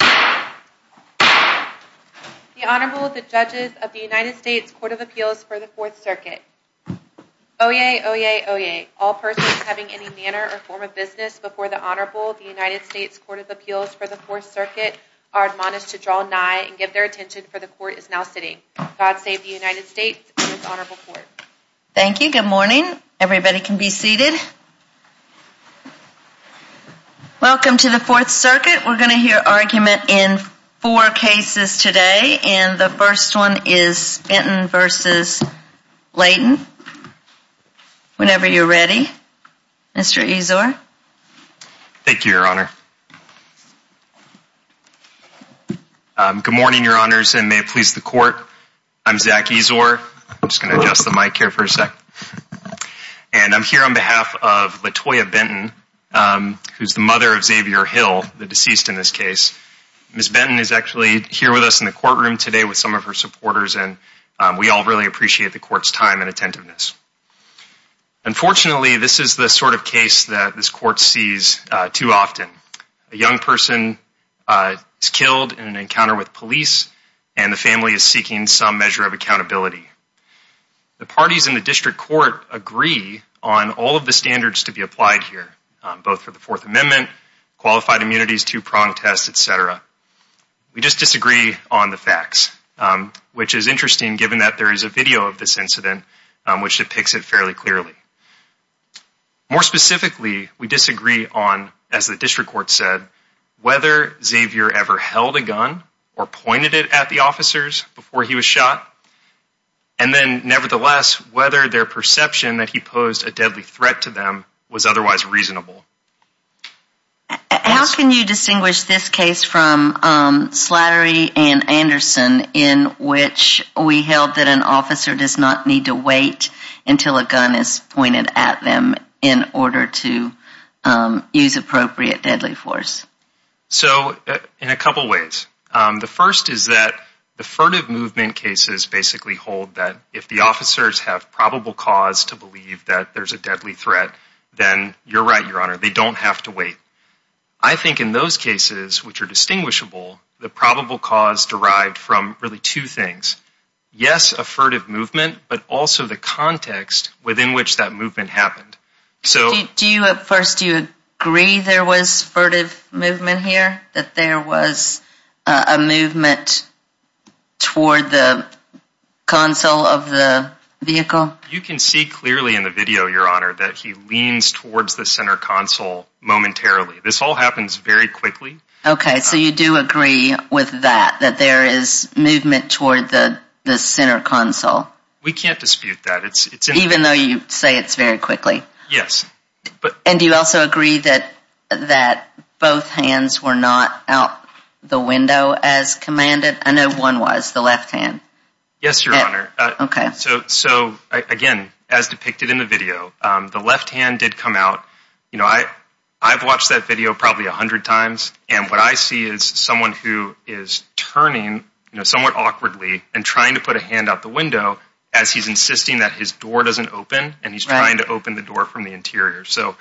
The Honorable, the Judges of the United States Court of Appeals for the 4th Circuit. Oyez, oyez, oyez. All persons having any manner or form of business before the Honorable, the United States Court of Appeals for the 4th Circuit, are admonished to draw nigh and give their attention, for the Court is now sitting. God save the United States and its Honorable Court. Thank you. Good morning. Everybody can be seated. Welcome to the 4th Circuit. We're going to hear argument in four cases today, and the first one is Benton v. Layton. Whenever you're ready, Mr. Ezor. Thank you, Your Honor. Good morning, Your Honors, and may it please the Court. I'm Zach Ezor. I'm just going to adjust the mic here for a second. And I'm here on behalf of Latoya Benton, who's the mother of Xavier Hill, the deceased in this case. Ms. Benton is actually here with us in the courtroom today with some of her supporters, and we all really appreciate the Court's time and attentiveness. Unfortunately, this is the sort of case that this Court sees too often. A young person is killed in an encounter with police, and the family is seeking some measure of accountability. The parties in the District Court agree on all of the standards to be applied here, both for the Fourth Amendment, qualified immunities, two-pronged tests, etc. We just disagree on the facts, which is interesting given that there is a video of this incident which depicts it fairly clearly. More specifically, we disagree on, as the District Court said, whether Xavier ever held a gun or pointed it at the officers before he was shot, and then nevertheless whether their perception that he posed a deadly threat to them was otherwise reasonable. How can you distinguish this case from Slattery and Anderson, in which we held that an officer does not need to wait until a gun is pointed at them in order to use appropriate deadly force? So, in a couple ways. The first is that the furtive movement cases basically hold that if the officers have probable cause to believe that there's a deadly threat, then you're right, Your Honor, they don't have to wait. I think in those cases, which are distinguishable, the probable cause derived from really two things. Yes, a furtive movement, but also the context within which that movement happened. Do you, at first, do you agree there was furtive movement here? That there was a movement toward the console of the vehicle? You can see clearly in the video, Your Honor, that he leans towards the center console momentarily. This all happens very quickly. Okay, so you do agree with that, that there is movement toward the center console? We can't dispute that. Even though you say it's very quickly? Yes. And do you also agree that both hands were not out the window as commanded? I know one was, the left hand. Yes, Your Honor. Okay. So, again, as depicted in the video, the left hand did come out. You know, I've watched that video probably a hundred times, and what I see is someone who is turning somewhat awkwardly and trying to put a hand out the window as he's insisting that his door doesn't open, and he's trying to open the door from the interior. So,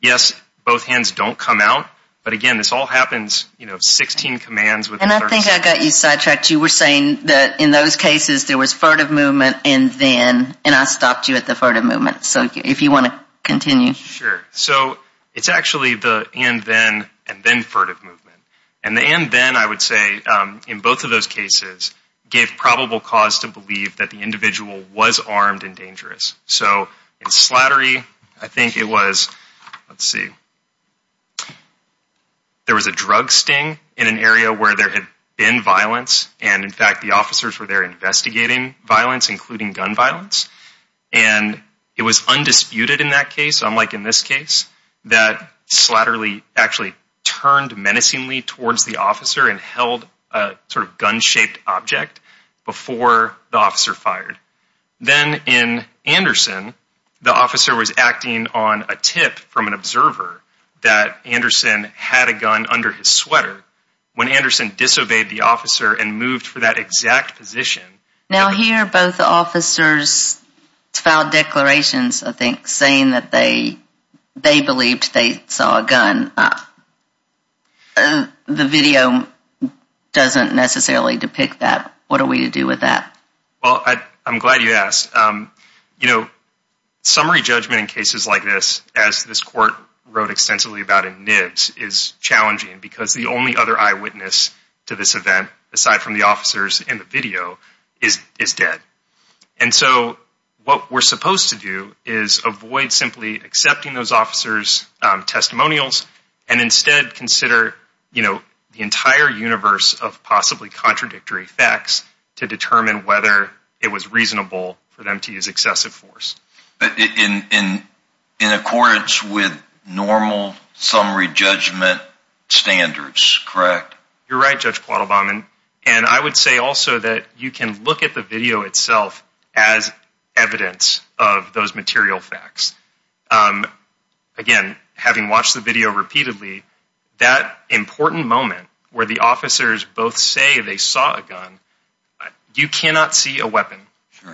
yes, both hands don't come out, but again, this all happens, you know, 16 commands. And I think I got you sidetracked. You were saying that in those cases there was furtive movement and then, and I stopped you at the furtive movement. So, if you want to continue. Sure. So, it's actually the and then and then furtive movement. And the and then, I would say, in both of those cases, gave probable cause to believe that the individual was armed and dangerous. So, in Slattery, I think it was, let's see, there was a drug sting in an area where there had been violence. And, in fact, the officers were there investigating violence, including gun violence. And it was undisputed in that case, unlike in this case, that Slattery actually turned menacingly towards the officer and held a sort of gun-shaped object before the officer fired. Then, in Anderson, the officer was acting on a tip from an observer that Anderson had a gun under his sweater. When Anderson disobeyed the officer and moved for that exact position. Now, here, both officers filed declarations, I think, saying that they believed they saw a gun. The video doesn't necessarily depict that. What are we to do with that? Well, I'm glad you asked. You know, summary judgment in cases like this, as this court wrote extensively about in NIBS, is challenging. Because the only other eyewitness to this event, aside from the officers and the video, is dead. And so, what we're supposed to do is avoid simply accepting those officers' testimonials. And instead, consider the entire universe of possibly contradictory facts to determine whether it was reasonable for them to use excessive force. In accordance with normal summary judgment standards, correct? You're right, Judge Quattlebaum. And I would say also that you can look at the video itself as evidence of those material facts. Again, having watched the video repeatedly, that important moment where the officers both say they saw a gun, you cannot see a weapon.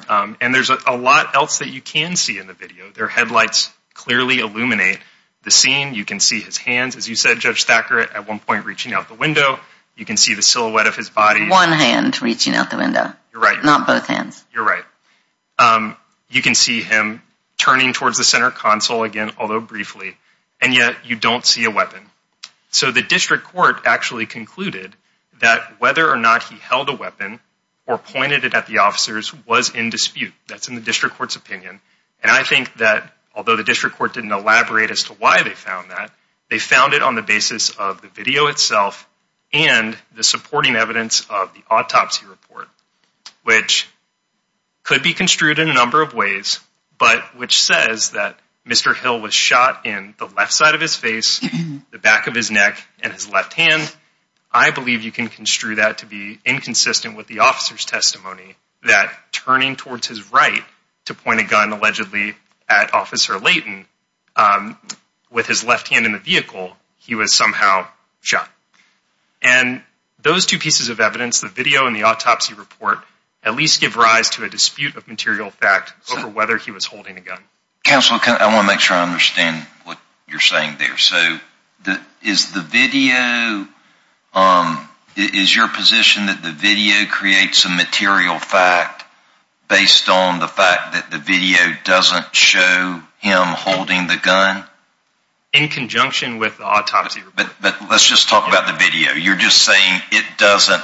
And there's a lot else that you can see in the video. Their headlights clearly illuminate the scene. You can see his hands, as you said, Judge Thackerett, at one point reaching out the window. You can see the silhouette of his body. One hand reaching out the window. You're right. Not both hands. You're right. You can see him turning towards the center console again, although briefly. And yet, you don't see a weapon. So, the district court actually concluded that whether or not he held a weapon or pointed it at the officers was in dispute. That's in the district court's opinion. And I think that, although the district court didn't elaborate as to why they found that, they found it on the basis of the video itself and the supporting evidence of the autopsy report. Which could be construed in a number of ways, but which says that Mr. Hill was shot in the left side of his face, the back of his neck, and his left hand. I believe you can construe that to be inconsistent with the officer's testimony, that turning towards his right to point a gun, allegedly, at Officer Layton, with his left hand in the vehicle, he was somehow shot. And those two pieces of evidence, the video and the autopsy report, at least give rise to a dispute of material fact over whether he was holding a gun. Counsel, I want to make sure I understand what you're saying there. So, is the video, is your position that the video creates a material fact based on the fact that the video doesn't show him holding the gun? In conjunction with the autopsy report. But let's just talk about the video. You're just saying it doesn't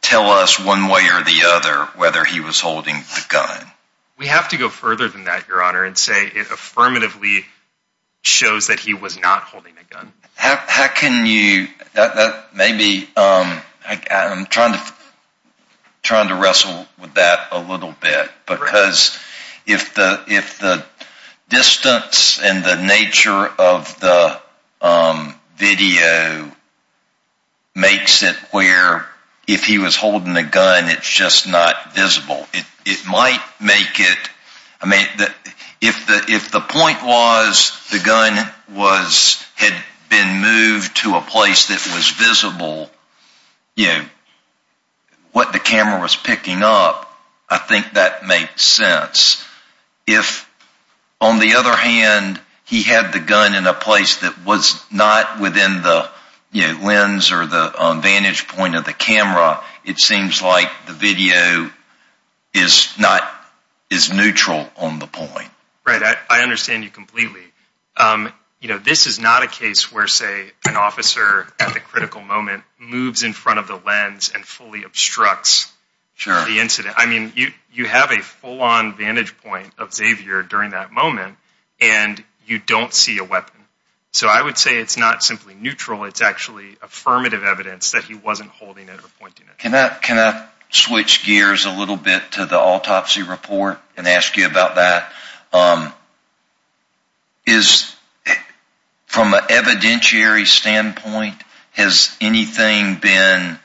tell us one way or the other whether he was holding the gun. We have to go further than that, Your Honor, and say it affirmatively shows that he was not holding a gun. How can you, maybe, I'm trying to wrestle with that a little bit. Because if the distance and the nature of the video makes it where if he was holding a gun, it's just not visible. It might make it, I mean, if the point was the gun had been moved to a place that was visible, you know, what the camera was picking up, I think that makes sense. If, on the other hand, he had the gun in a place that was not within the lens or the vantage point of the camera, it seems like the video is neutral on the point. Right, I understand you completely. You know, this is not a case where, say, an officer at the critical moment moves in front of the lens and fully obstructs the incident. I mean, you have a full-on vantage point of Xavier during that moment, and you don't see a weapon. So I would say it's not simply neutral, it's actually affirmative evidence that he wasn't holding it or pointing it. Can I switch gears a little bit to the autopsy report and ask you about that? From an evidentiary standpoint, has anything been,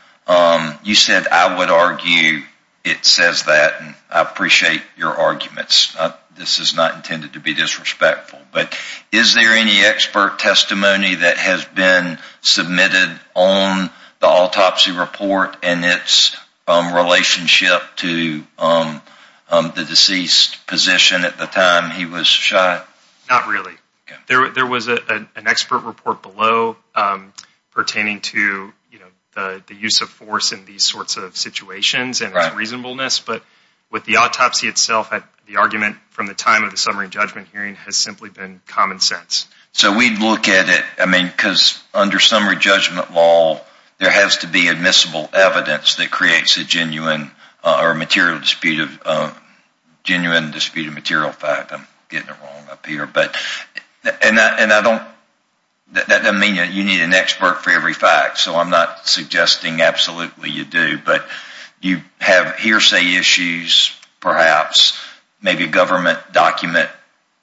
you said, I would argue it says that, and I appreciate your arguments. This is not intended to be disrespectful. But is there any expert testimony that has been submitted on the autopsy report and its relationship to the deceased position at the time he was shot? Not really. There was an expert report below pertaining to the use of force in these sorts of situations and its reasonableness. But with the autopsy itself, the argument from the time of the summary judgment hearing has simply been common sense. So we'd look at it, I mean, because under summary judgment law, there has to be admissible evidence that creates a genuine dispute of material fact. I'm getting it wrong up here. And that doesn't mean you need an expert for every fact. So I'm not suggesting absolutely you do. But you have hearsay issues, perhaps, maybe a government document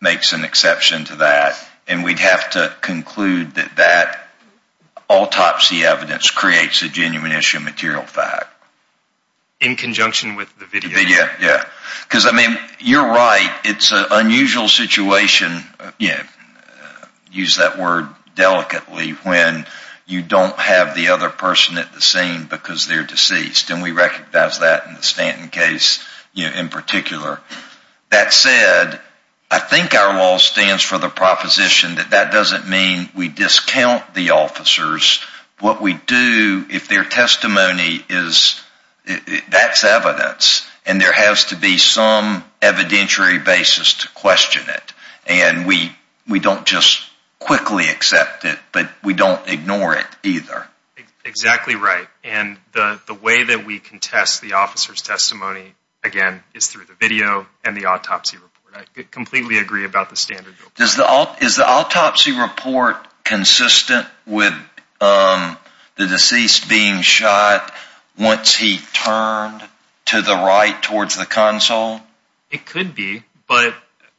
makes an exception to that. And we'd have to conclude that that autopsy evidence creates a genuine issue of material fact. In conjunction with the video. Yeah. Because, I mean, you're right, it's an unusual situation, use that word delicately, when you don't have the other person at the scene because they're deceased. And we recognize that in the Stanton case in particular. That said, I think our law stands for the proposition that that doesn't mean we discount the officers. What we do, if their testimony is, that's evidence. And there has to be some evidentiary basis to question it. And we don't just quickly accept it. But we don't ignore it either. Exactly right. And the way that we contest the officer's testimony, again, is through the video and the autopsy report. I completely agree about the standard. Is the autopsy report consistent with the deceased being shot once he turned to the right towards the console? It could be. But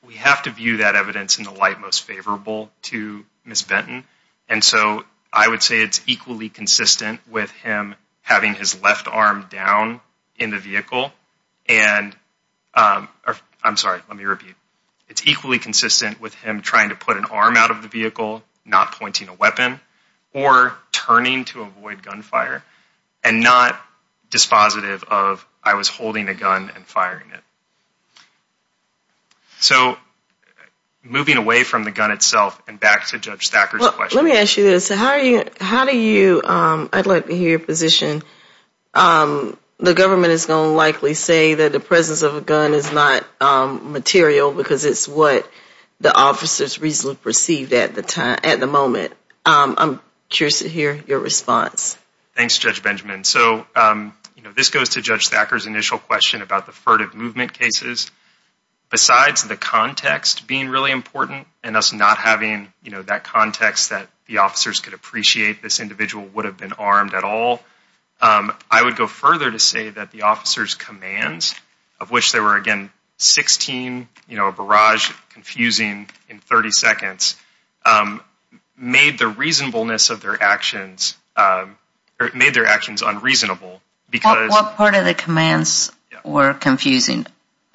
we have to view that evidence in the light most favorable to Ms. Benton. And so I would say it's equally consistent with him having his left arm down in the vehicle. I'm sorry, let me repeat. It's equally consistent with him trying to put an arm out of the vehicle, not pointing a weapon, or turning to avoid gunfire. And not dispositive of, I was holding a gun and firing it. So, moving away from the gun itself and back to Judge Thacker's question. Let me ask you this. How do you, I'd like to hear your position, the government is going to likely say that the presence of a gun is not material because it's what the officers reasonably perceived at the moment. I'm curious to hear your response. Thanks, Judge Benjamin. So, this goes to Judge Thacker's initial question about the furtive movement cases. Besides the context being really important, and us not having that context that the officers could appreciate this individual would have been armed at all, I would go further to say that the officers' commands, of which there were, again, 16, a barrage, confusing in 30 seconds, made the reasonableness of their actions, made their actions unreasonable. What part of the commands were confusing?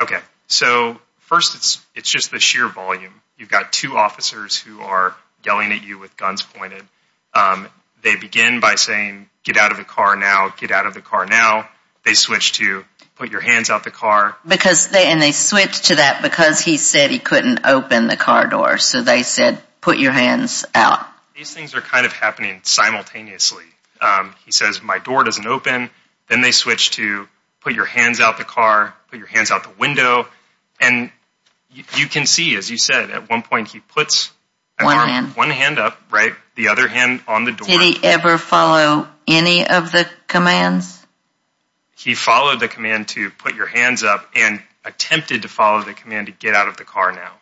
Okay. So, first, it's just the sheer volume. You've got two officers who are yelling at you with guns pointed. They begin by saying, get out of the car now, get out of the car now. They switch to, put your hands out the car. And they switch to that because he said he couldn't open the car door. So, they said, put your hands out. These things are kind of happening simultaneously. He says, my door doesn't open. Then they switch to, put your hands out the car, put your hands out the window. And you can see, as you said, at one point he puts one hand up, right, the other hand on the door. Did he ever follow any of the commands? He followed the command to put your hands up and attempted to follow the command to get out of the car now.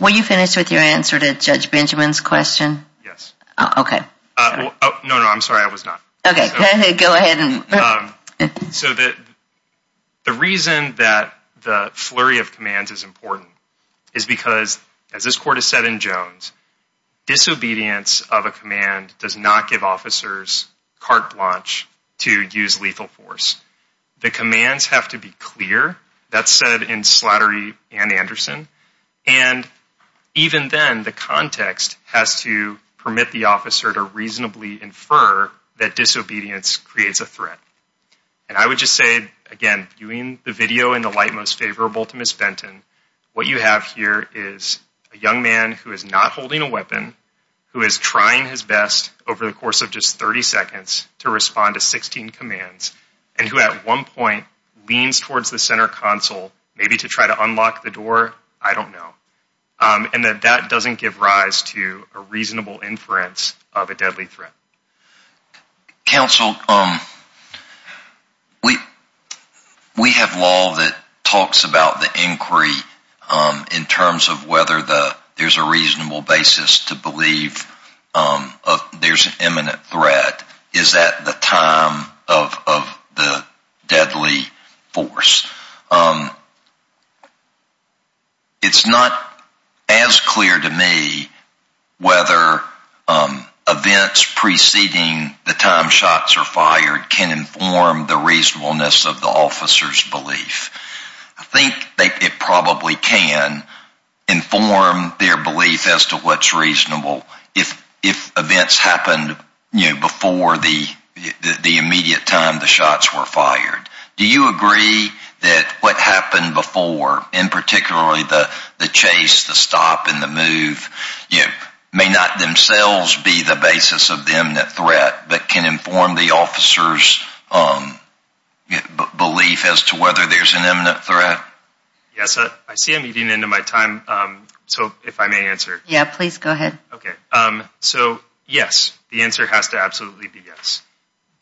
Will you finish with your answer to Judge Benjamin's question? Yes. Okay. No, no, I'm sorry. I was not. Okay. Go ahead. So, the reason that the flurry of commands is important is because, as this court has said in Jones, disobedience of a command does not give officers carte blanche to use lethal force. The commands have to be clear. That's said in Slattery and Anderson. And even then, the context has to permit the officer to reasonably infer that disobedience creates a threat. And I would just say, again, viewing the video in the light most favorable to Ms. Benton, what you have here is a young man who is not holding a weapon, who is trying his best over the course of just 30 seconds to respond to 16 commands, and who at one point leans towards the center console maybe to try to unlock the door. I don't know. And that that doesn't give rise to a reasonable inference of a deadly threat. Counsel, we have law that talks about the inquiry in terms of whether there's a reasonable basis to believe there's an imminent threat. Is that the time of the deadly force? It's not as clear to me whether events preceding the time shots are fired can inform the reasonableness of the officer's belief. I think it probably can inform their belief as to what's reasonable. If events happened before the immediate time the shots were fired, do you agree that what happened before, and particularly the chase, the stop, and the move, may not themselves be the basis of the imminent threat, but can inform the officer's belief as to whether there's an imminent threat? Yes, I see I'm eating into my time. So if I may answer. Yeah, please go ahead. Okay. So yes, the answer has to absolutely be yes.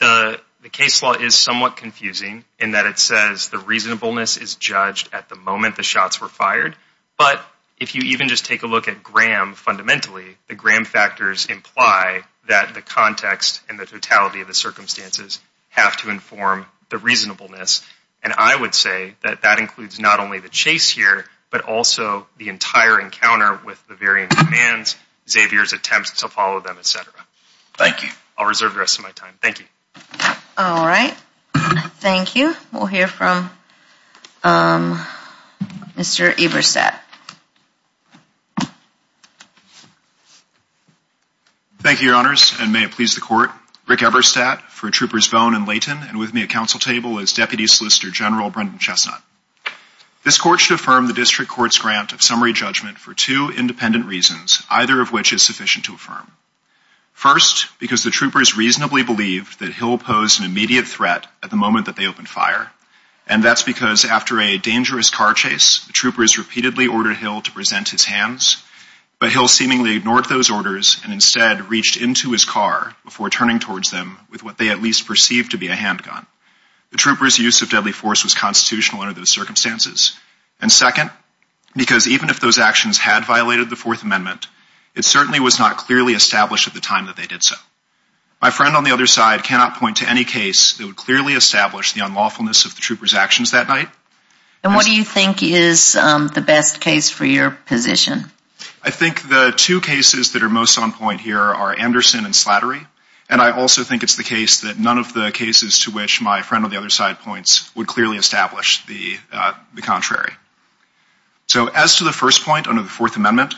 The case law is somewhat confusing in that it says the reasonableness is judged at the moment the shots were fired. But if you even just take a look at Graham fundamentally, the Graham factors imply that the context and the totality of the circumstances have to inform the reasonableness. And I would say that that includes not only the chase here, but also the entire encounter with the varying demands, Xavier's attempts to follow them, et cetera. Thank you. I'll reserve the rest of my time. Thank you. All right. Thank you. We'll hear from Mr. Eberstadt. Thank you, Your Honors, and may it please the Court. Rick Eberstadt for Troopers Bone and Layton, and with me at council table is Deputy Solicitor General Brendan Chestnut. This Court should affirm the district court's grant of summary judgment for two independent reasons, either of which is sufficient to affirm. First, because the troopers reasonably believed that Hill posed an immediate threat at the moment that they opened fire, and that's because after a dangerous car chase, the troopers repeatedly ordered Hill to present his hands, but Hill seemingly ignored those orders and instead reached into his car before turning towards them with what they at least perceived to be a handgun. The troopers' use of deadly force was constitutional under those circumstances. And second, because even if those actions had violated the Fourth Amendment, it certainly was not clearly established at the time that they did so. My friend on the other side cannot point to any case that would clearly establish the unlawfulness of the troopers' actions that night. And what do you think is the best case for your position? I think the two cases that are most on point here are Anderson and Slattery, and I also think it's the case that none of the cases to which my friend on the other side points would clearly establish the contrary. So as to the first point under the Fourth Amendment,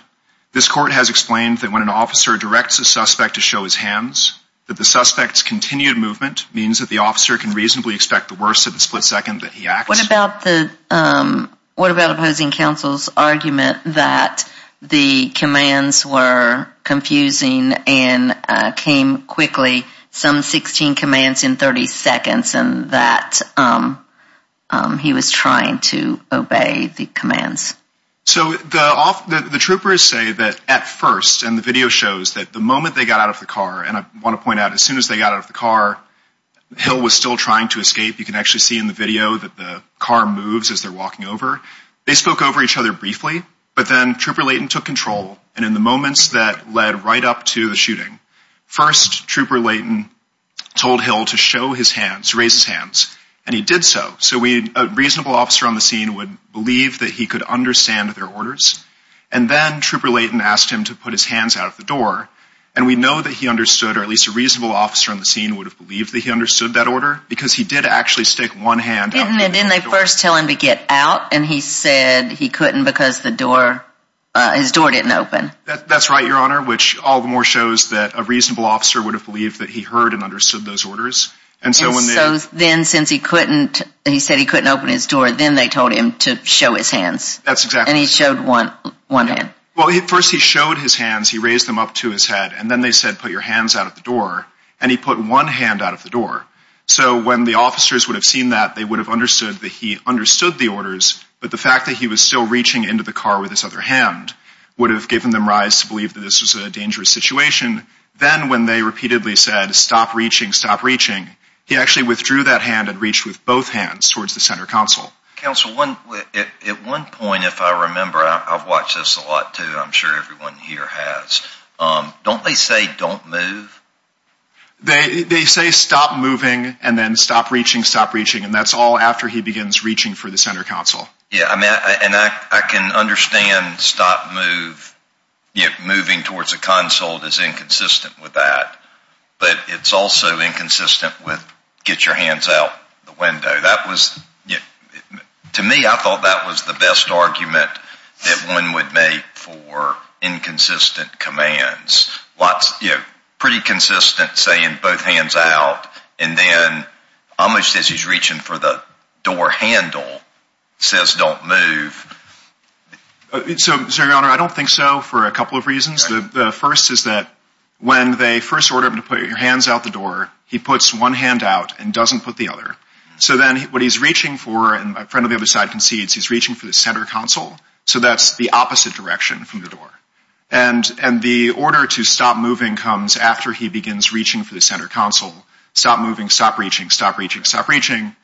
this Court has explained that when an officer directs a suspect to show his hands, that the suspect's continued movement means that the officer can reasonably expect the worst at the split second that he acts. What about opposing counsel's argument that the commands were confusing and came quickly, some 16 commands in 30 seconds, and that he was trying to obey the commands? So the troopers say that at first, and the video shows that the moment they got out of the car, and I want to point out as soon as they got out of the car, Hill was still trying to escape. You can actually see in the video that the car moves as they're walking over. They spoke over each other briefly, but then Trooper Layton took control, and in the moments that led right up to the shooting, first Trooper Layton told Hill to show his hands, raise his hands, and he did so. So a reasonable officer on the scene would believe that he could understand their orders, and then Trooper Layton asked him to put his hands out of the door, and we know that he understood, or at least a reasonable officer on the scene would have believed that he understood that order, because he did actually stick one hand out of the door. Didn't they first tell him to get out, and he said he couldn't because the door, his door didn't open? That's right, Your Honor, which all the more shows that a reasonable officer would have believed that he heard and understood those orders, and so when they. And so then since he couldn't, he said he couldn't open his door, then they told him to show his hands. That's exactly. And he showed one hand. Well, at first he showed his hands. He raised them up to his head, and then they said put your hands out of the door, and he put one hand out of the door. So when the officers would have seen that, they would have understood that he understood the orders, but the fact that he was still reaching into the car with his other hand would have given them rise to believe that this was a dangerous situation. Then when they repeatedly said stop reaching, stop reaching, he actually withdrew that hand and reached with both hands towards the center console. Counsel, at one point, if I remember, I've watched this a lot too, I'm sure everyone here has. Don't they say don't move? They say stop moving and then stop reaching, stop reaching, and that's all after he begins reaching for the center console. Yeah, and I can understand stop move, moving towards the console is inconsistent with that, but it's also inconsistent with get your hands out the window. To me, I thought that was the best argument that one would make for inconsistent commands. Pretty consistent saying both hands out, and then almost as he's reaching for the door handle, says don't move. So, Your Honor, I don't think so for a couple of reasons. The first is that when they first order him to put your hands out the door, he puts one hand out and doesn't put the other. So then what he's reaching for, and my friend on the other side concedes, he's reaching for the center console, so that's the opposite direction from the door. And the order to stop moving comes after he begins reaching for the center console. Stop moving, stop reaching, stop reaching, stop reaching,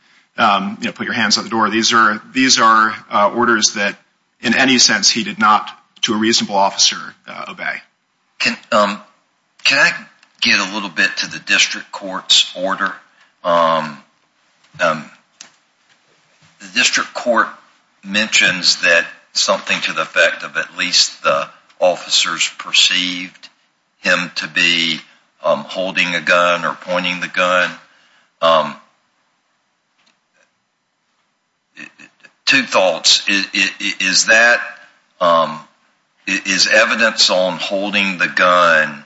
put your hands out the door. These are orders that, in any sense, he did not, to a reasonable officer, obey. Can I get a little bit to the district court's order? The district court mentions that something to the effect of at least the officers perceived him to be holding a gun or pointing the gun. Two thoughts. Is that, is evidence on holding the gun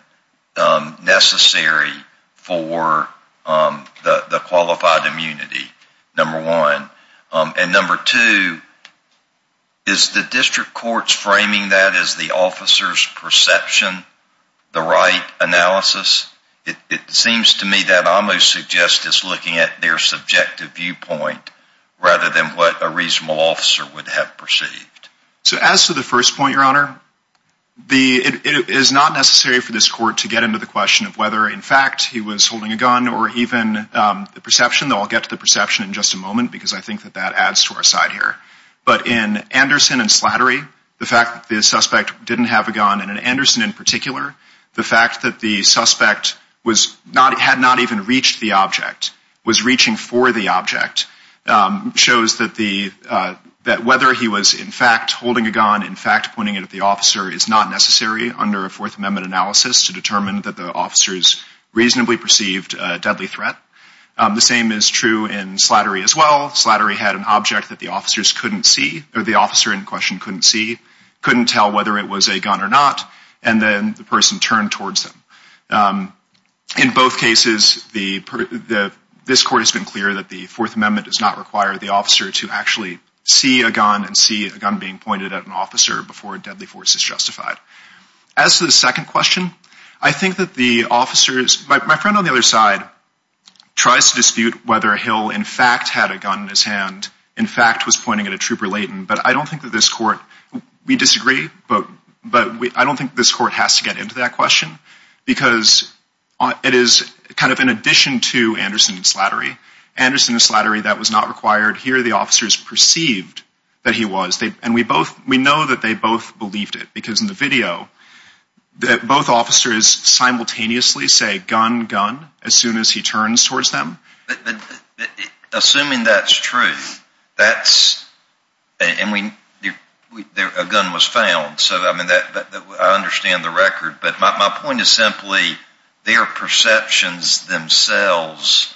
necessary for the qualified immunity, number one? And number two, is the district court's framing that as the officer's perception, the right analysis? It seems to me that almost suggests it's looking at their subjective viewpoint rather than what a reasonable officer would have perceived. So as to the first point, Your Honor, it is not necessary for this court to get into the question of whether, in fact, he was holding a gun, or even the perception, though I'll get to the perception in just a moment, because I think that that adds to our side here. But in Anderson and Slattery, the fact that the suspect didn't have a gun, and in Anderson in particular, the fact that the suspect was not, had not even reached the object, was reaching for the object, shows that the, that whether he was in fact holding a gun, in fact pointing it at the officer, is not necessary under a Fourth Amendment analysis to determine that the officers reasonably perceived a deadly threat. The same is true in Slattery as well. Slattery had an object that the officers couldn't see, or the officer in question couldn't see, couldn't tell whether it was a gun or not, and then the person turned towards them. In both cases, the, this court has been clear that the Fourth Amendment does not require the officer to actually see a gun and see a gun being pointed at an officer before a deadly force is justified. As to the second question, I think that the officers, my friend on the other side, tries to dispute whether Hill in fact had a gun in his hand, in fact was pointing at a trooper latent, but I don't think that this court, we disagree, but I don't think this court has to get into that question, because it is kind of in addition to Anderson and Slattery. Anderson and Slattery, that was not required. Here the officers perceived that he was, and we both, we know that they both believed it, because in the video, both officers simultaneously say, gun, gun, as soon as he turns towards them. Assuming that's true, that's, and we, a gun was found, so I understand the record, but my point is simply, their perceptions themselves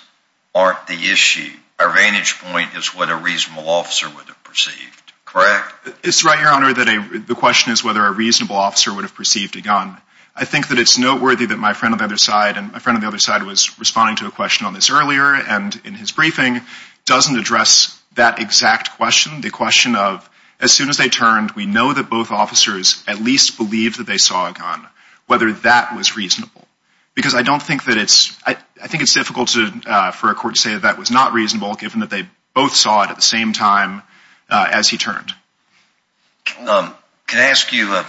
aren't the issue. Our vantage point is what a reasonable officer would have perceived, correct? It's right, Your Honor, that the question is whether a reasonable officer would have perceived a gun. I think that it's noteworthy that my friend on the other side, and my friend on the other side was responding to a question on this earlier, and in his briefing, doesn't address that exact question, the question of, as soon as they turned, we know that both officers at least believed that they saw a gun, whether that was reasonable. Because I don't think that it's, I think it's difficult for a court to say that that was not reasonable, given that they both saw it at the same time as he turned. Can I ask you a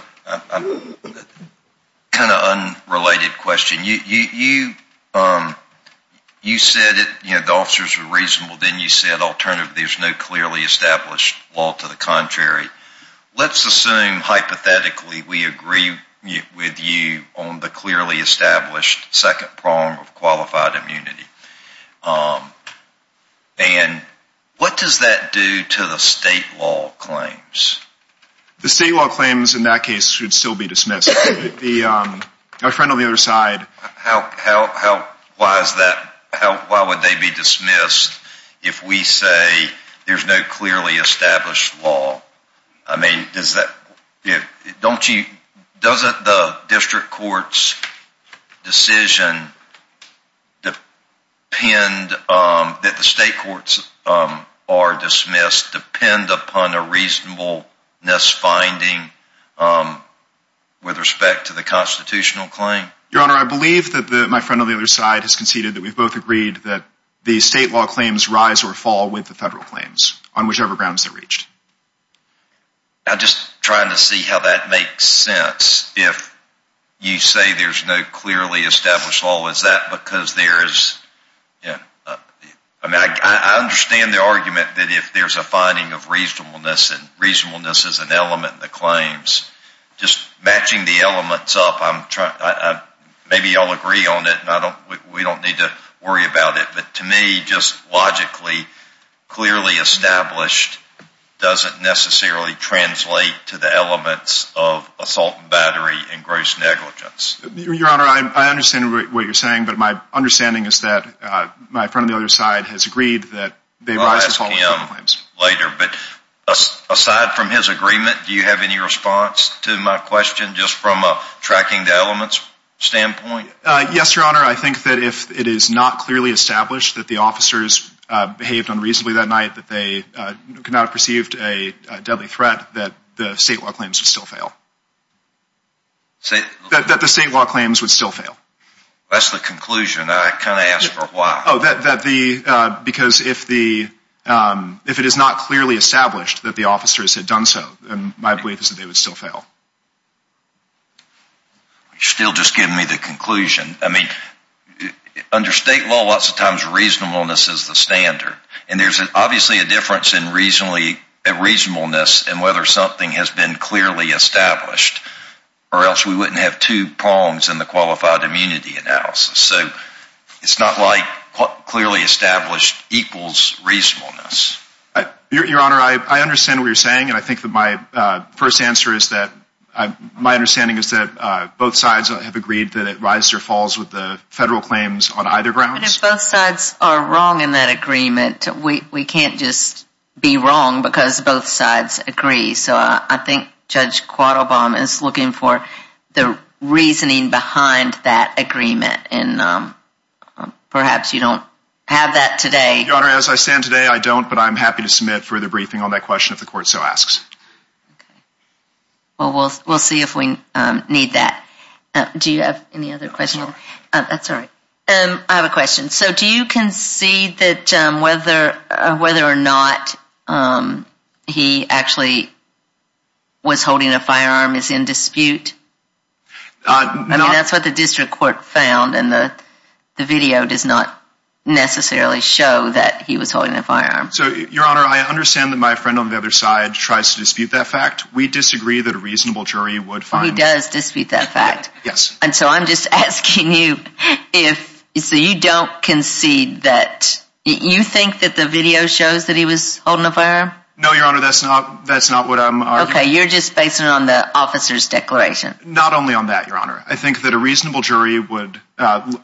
kind of unrelated question? You said that the officers were reasonable, then you said alternatively, there's no clearly established law to the contrary. Let's assume, hypothetically, we agree with you on the clearly established second prong of qualified immunity. And what does that do to the state law claims? The state law claims in that case should still be dismissed. Our friend on the other side. How, why is that, why would they be dismissed if we say there's no clearly established law? I mean, does that, don't you, doesn't the district court's decision depend, that the state courts are dismissed depend upon a reasonableness finding with respect to the constitutional claim? Your Honor, I believe that my friend on the other side has conceded that we've both agreed that the state law claims rise or fall with the federal claims on whichever grounds they're reached. I'm just trying to see how that makes sense. If you say there's no clearly established law, is that because there is, I mean, I understand the argument that if there's a finding of reasonableness, and reasonableness is an element in the claims, just matching the elements up, I'm trying, maybe you all agree on it, and I don't, we don't need to worry about it. But to me, just logically, clearly established doesn't necessarily translate to the elements of assault and battery and gross negligence. Your Honor, I understand what you're saying, but my understanding is that my friend on the other side has agreed that they rise or fall with the claims. I'll ask him later, but aside from his agreement, do you have any response to my question, just from a tracking the elements standpoint? Yes, Your Honor, I think that if it is not clearly established that the officers behaved unreasonably that night, that they could not have perceived a deadly threat, that the state law claims would still fail. That the state law claims would still fail. That's the conclusion. I kind of asked for why. Oh, that the, because if the, if it is not clearly established that the officers had done so, then my belief is that they would still fail. You're still just giving me the conclusion. I mean, under state law, lots of times reasonableness is the standard. And there's obviously a difference in reasonableness and whether something has been clearly established. Or else we wouldn't have two prongs in the qualified immunity analysis. So it's not like clearly established equals reasonableness. Your Honor, I understand what you're saying, and I think that my first answer is that, my understanding is that both sides have agreed that it rises or falls with the federal claims on either grounds. But if both sides are wrong in that agreement, we can't just be wrong because both sides agree. So I think Judge Quadalbaum is looking for the reasoning behind that agreement. And perhaps you don't have that today. Your Honor, as I stand today, I don't. But I'm happy to submit further briefing on that question if the court so asks. Okay. Well, we'll see if we need that. Do you have any other questions? I'm sorry. I have a question. So do you concede that whether or not he actually was holding a firearm is in dispute? I mean, that's what the district court found, and the video does not necessarily show that he was holding a firearm. So, Your Honor, I understand that my friend on the other side tries to dispute that fact. We disagree that a reasonable jury would find that. He does dispute that fact. Yes. And so I'm just asking you if, so you don't concede that, you think that the video shows that he was holding a firearm? No, Your Honor, that's not what I'm arguing. Okay. You're just basing it on the officer's declaration. Not only on that, Your Honor. I think that a reasonable jury would,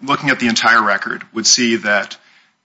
looking at the entire record, would see that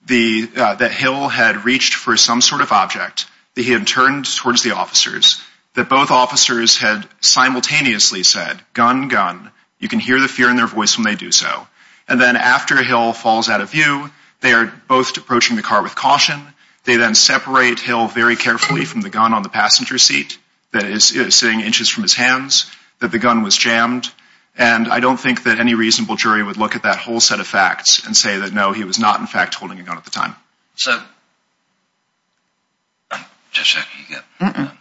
Hill had reached for some sort of object, that he had turned towards the officers, that both officers had simultaneously said, gun, gun. You can hear the fear in their voice when they do so. And then after Hill falls out of view, they are both approaching the car with caution. They then separate Hill very carefully from the gun on the passenger seat that is sitting inches from his hands, that the gun was jammed. And I don't think that any reasonable jury would look at that whole set of facts and say that, no, he was not, in fact, holding a gun at the time. So, the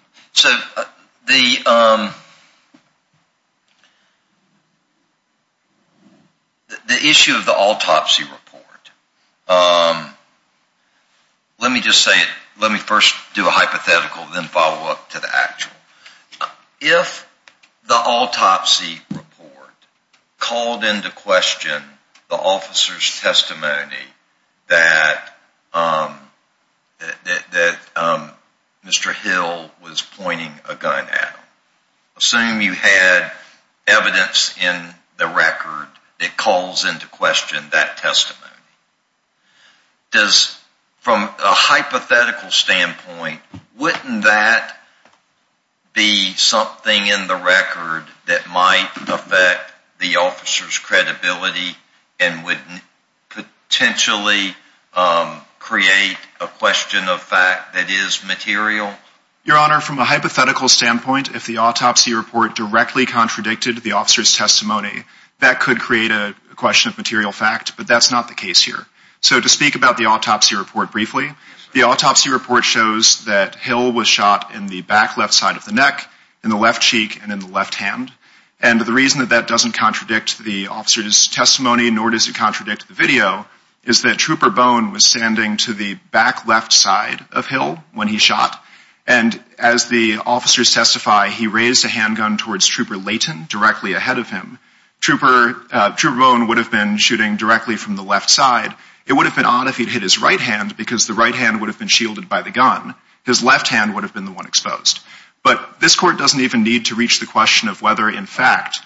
issue of the autopsy report, let me just say it, let me first do a hypothetical, then follow up to the actual. If the autopsy report called into question the officer's testimony that Mr. Hill was pointing a gun at him, assume you had evidence in the record that calls into question that testimony. Does, from a hypothetical standpoint, wouldn't that be something in the record that might affect the officer's credibility and would potentially create a question of fact that is material? Your Honor, from a hypothetical standpoint, if the autopsy report directly contradicted the officer's testimony, that could create a question of material fact, but that's not the case here. So, to speak about the autopsy report briefly, the autopsy report shows that Hill was shot in the back left side of the neck, in the left cheek, and in the left hand. And the reason that that doesn't contradict the officer's testimony, nor does it contradict the video, is that Trooper Bone was standing to the back left side of Hill when he shot, and as the officers testify, he raised a handgun towards Trooper Layton directly ahead of him. Trooper Bone would have been shooting directly from the left side. It would have been odd if he'd hit his right hand, because the right hand would have been shielded by the gun. His left hand would have been the one exposed. But this Court doesn't even need to reach the question of whether, in fact,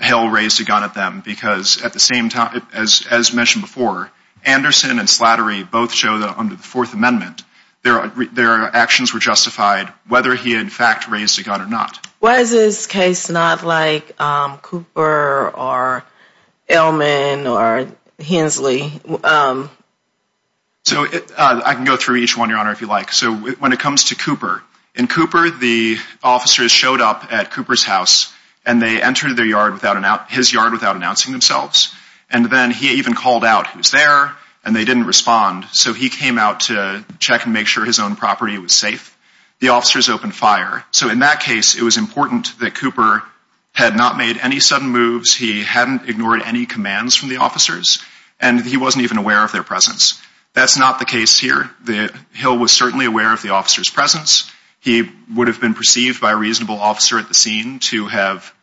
Hill raised a gun at them, because at the same time, as mentioned before, Anderson and Slattery both show that under the Fourth Amendment, their actions were justified whether he, in fact, raised a gun or not. Why is this case not like Cooper or Ellman or Hensley? So, I can go through each one, Your Honor, if you like. So, when it comes to Cooper, in Cooper, the officers showed up at Cooper's house, and they entered his yard without announcing themselves. And then he even called out, he was there, and they didn't respond. So, he came out to check and make sure his own property was safe. The officers opened fire. So, in that case, it was important that Cooper had not made any sudden moves, he hadn't ignored any commands from the officers, and he wasn't even aware of their presence. That's not the case here. Hill was certainly aware of the officers' presence. He would have been perceived by a reasonable officer at the scene to have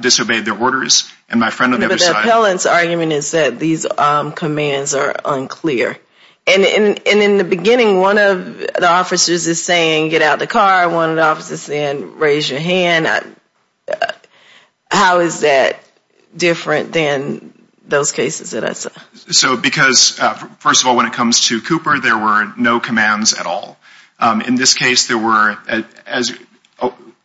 disobeyed their orders. But the appellant's argument is that these commands are unclear. And in the beginning, one of the officers is saying, get out of the car. One of the officers is saying, raise your hand. How is that different than those cases that I saw? So, because, first of all, when it comes to Cooper, there were no commands at all. In this case, there were,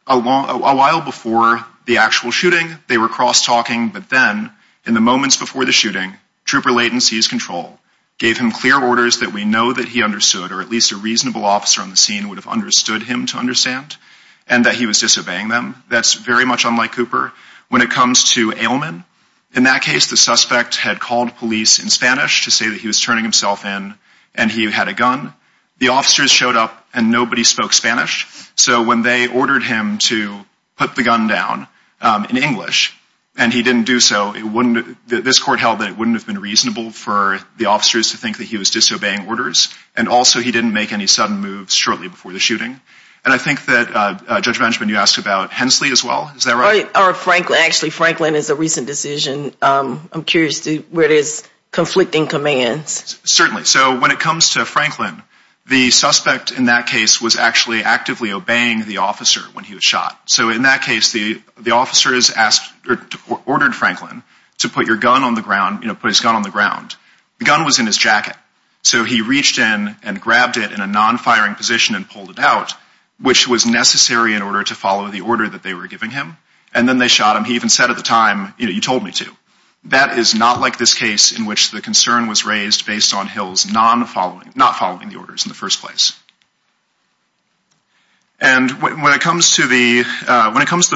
a while before the actual shooting, they were cross-talking, but then, in the moments before the shooting, Trooper Layton seized control, gave him clear orders that we know that he understood, or at least a reasonable officer on the scene would have understood him to understand, and that he was disobeying them. That's very much unlike Cooper. When it comes to Ailman, in that case, the suspect had called police in Spanish to say that he was turning himself in, and he had a gun. The officers showed up, and nobody spoke Spanish. So when they ordered him to put the gun down in English, and he didn't do so, this court held that it wouldn't have been reasonable for the officers to think that he was disobeying orders, and also he didn't make any sudden moves shortly before the shooting. And I think that, Judge Benjamin, you asked about Hensley as well. Is that right? Actually, Franklin is a recent decision. I'm curious where there's conflicting commands. Certainly. So when it comes to Franklin, the suspect in that case was actually actively obeying the officer when he was shot. So in that case, the officers ordered Franklin to put his gun on the ground. The gun was in his jacket. So he reached in and grabbed it in a non-firing position and pulled it out, which was necessary in order to follow the order that they were giving him. And then they shot him. He even said at the time, you know, you told me to. That is not like this case in which the concern was raised based on Hills not following the orders in the first place. And when it comes to the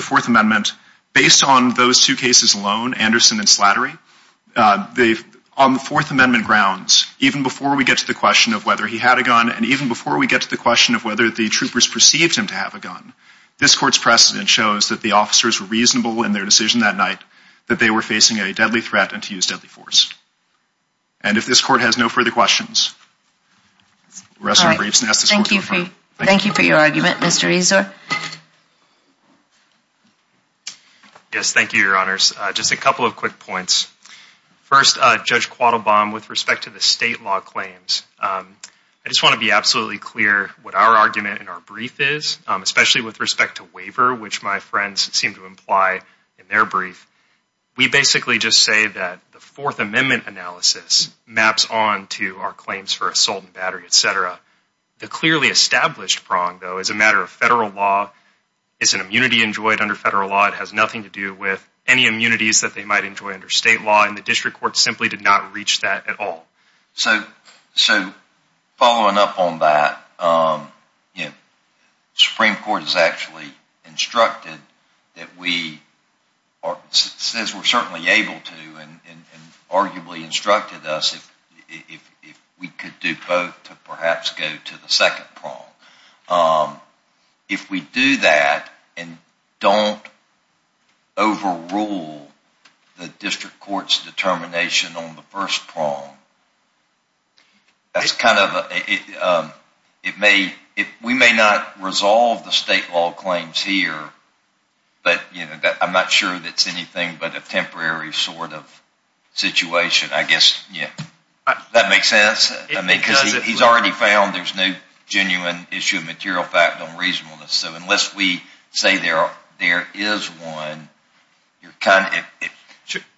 Fourth Amendment, based on those two cases alone, Anderson and Slattery, on the Fourth Amendment grounds, even before we get to the question of whether he had a gun and even before we get to the question of whether the troopers perceived him to have a gun, this court's precedent shows that the officers were reasonable in their decision that night that they were facing a deadly threat and to use deadly force. And if this court has no further questions, the rest of the briefs. Thank you. Thank you for your argument, Mr. Ezer. Yes, thank you, Your Honors. Just a couple of quick points. First, Judge Quattlebaum, with respect to the state law claims, I just want to be absolutely clear what our argument in our brief is, especially with respect to waiver, which my friends seem to imply in their brief. We basically just say that the Fourth Amendment analysis maps on to our claims for assault and battery, etc. The clearly established prong, though, is a matter of federal law. It's an immunity enjoyed under federal law. It has nothing to do with any immunities that they might enjoy under state law, and the district court simply did not reach that at all. So following up on that, the Supreme Court has actually instructed that we, says we're certainly able to and arguably instructed us if we could do both to perhaps go to the second prong. If we do that and don't overrule the district court's determination on the first prong, we may not resolve the state law claims here, but I'm not sure that's anything but a temporary sort of situation, I guess. Does that make sense? Because he's already found there's no genuine issue of material fact on reasonableness, so unless we say there is one,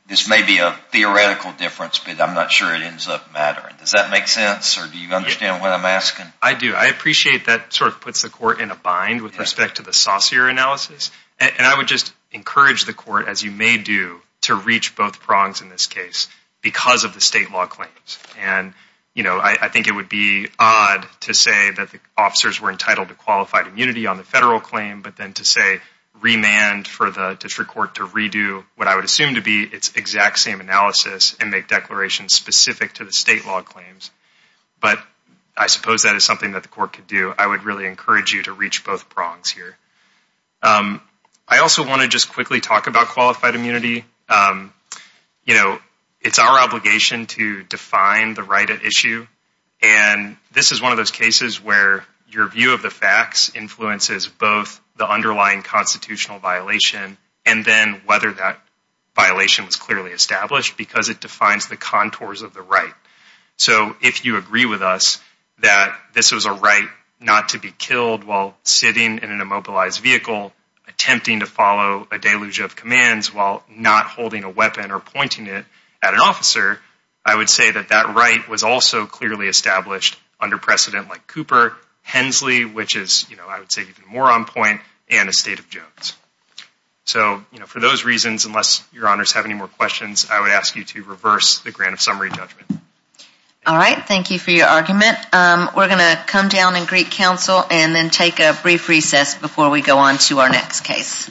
this may be a theoretical difference, but I'm not sure it ends up mattering. Does that make sense, or do you understand what I'm asking? I do. I appreciate that sort of puts the court in a bind with respect to the saucier analysis, and I would just encourage the court, as you may do, to reach both prongs in this case because of the state law claims. And I think it would be odd to say that the officers were entitled to qualified immunity on the federal claim, but then to say remand for the district court to redo what I would assume to be its exact same analysis and make declarations specific to the state law claims. But I suppose that is something that the court could do. I would really encourage you to reach both prongs here. I also want to just quickly talk about qualified immunity. You know, it's our obligation to define the right at issue, and this is one of those cases where your view of the facts influences both the underlying constitutional violation and then whether that violation was clearly established because it defines the contours of the right. So if you agree with us that this was a right not to be killed while sitting in an immobilized vehicle, attempting to follow a deluge of commands while not holding a weapon or pointing it at an officer, I would say that that right was also clearly established under precedent like Cooper, Hensley, which is, you know, I would say even more on point, and the State of Jones. So, you know, for those reasons, unless your honors have any more questions, I would ask you to reverse the grant of summary judgment. All right. Thank you for your argument. We're going to come down and greet counsel and then take a brief recess before we go on to our next case.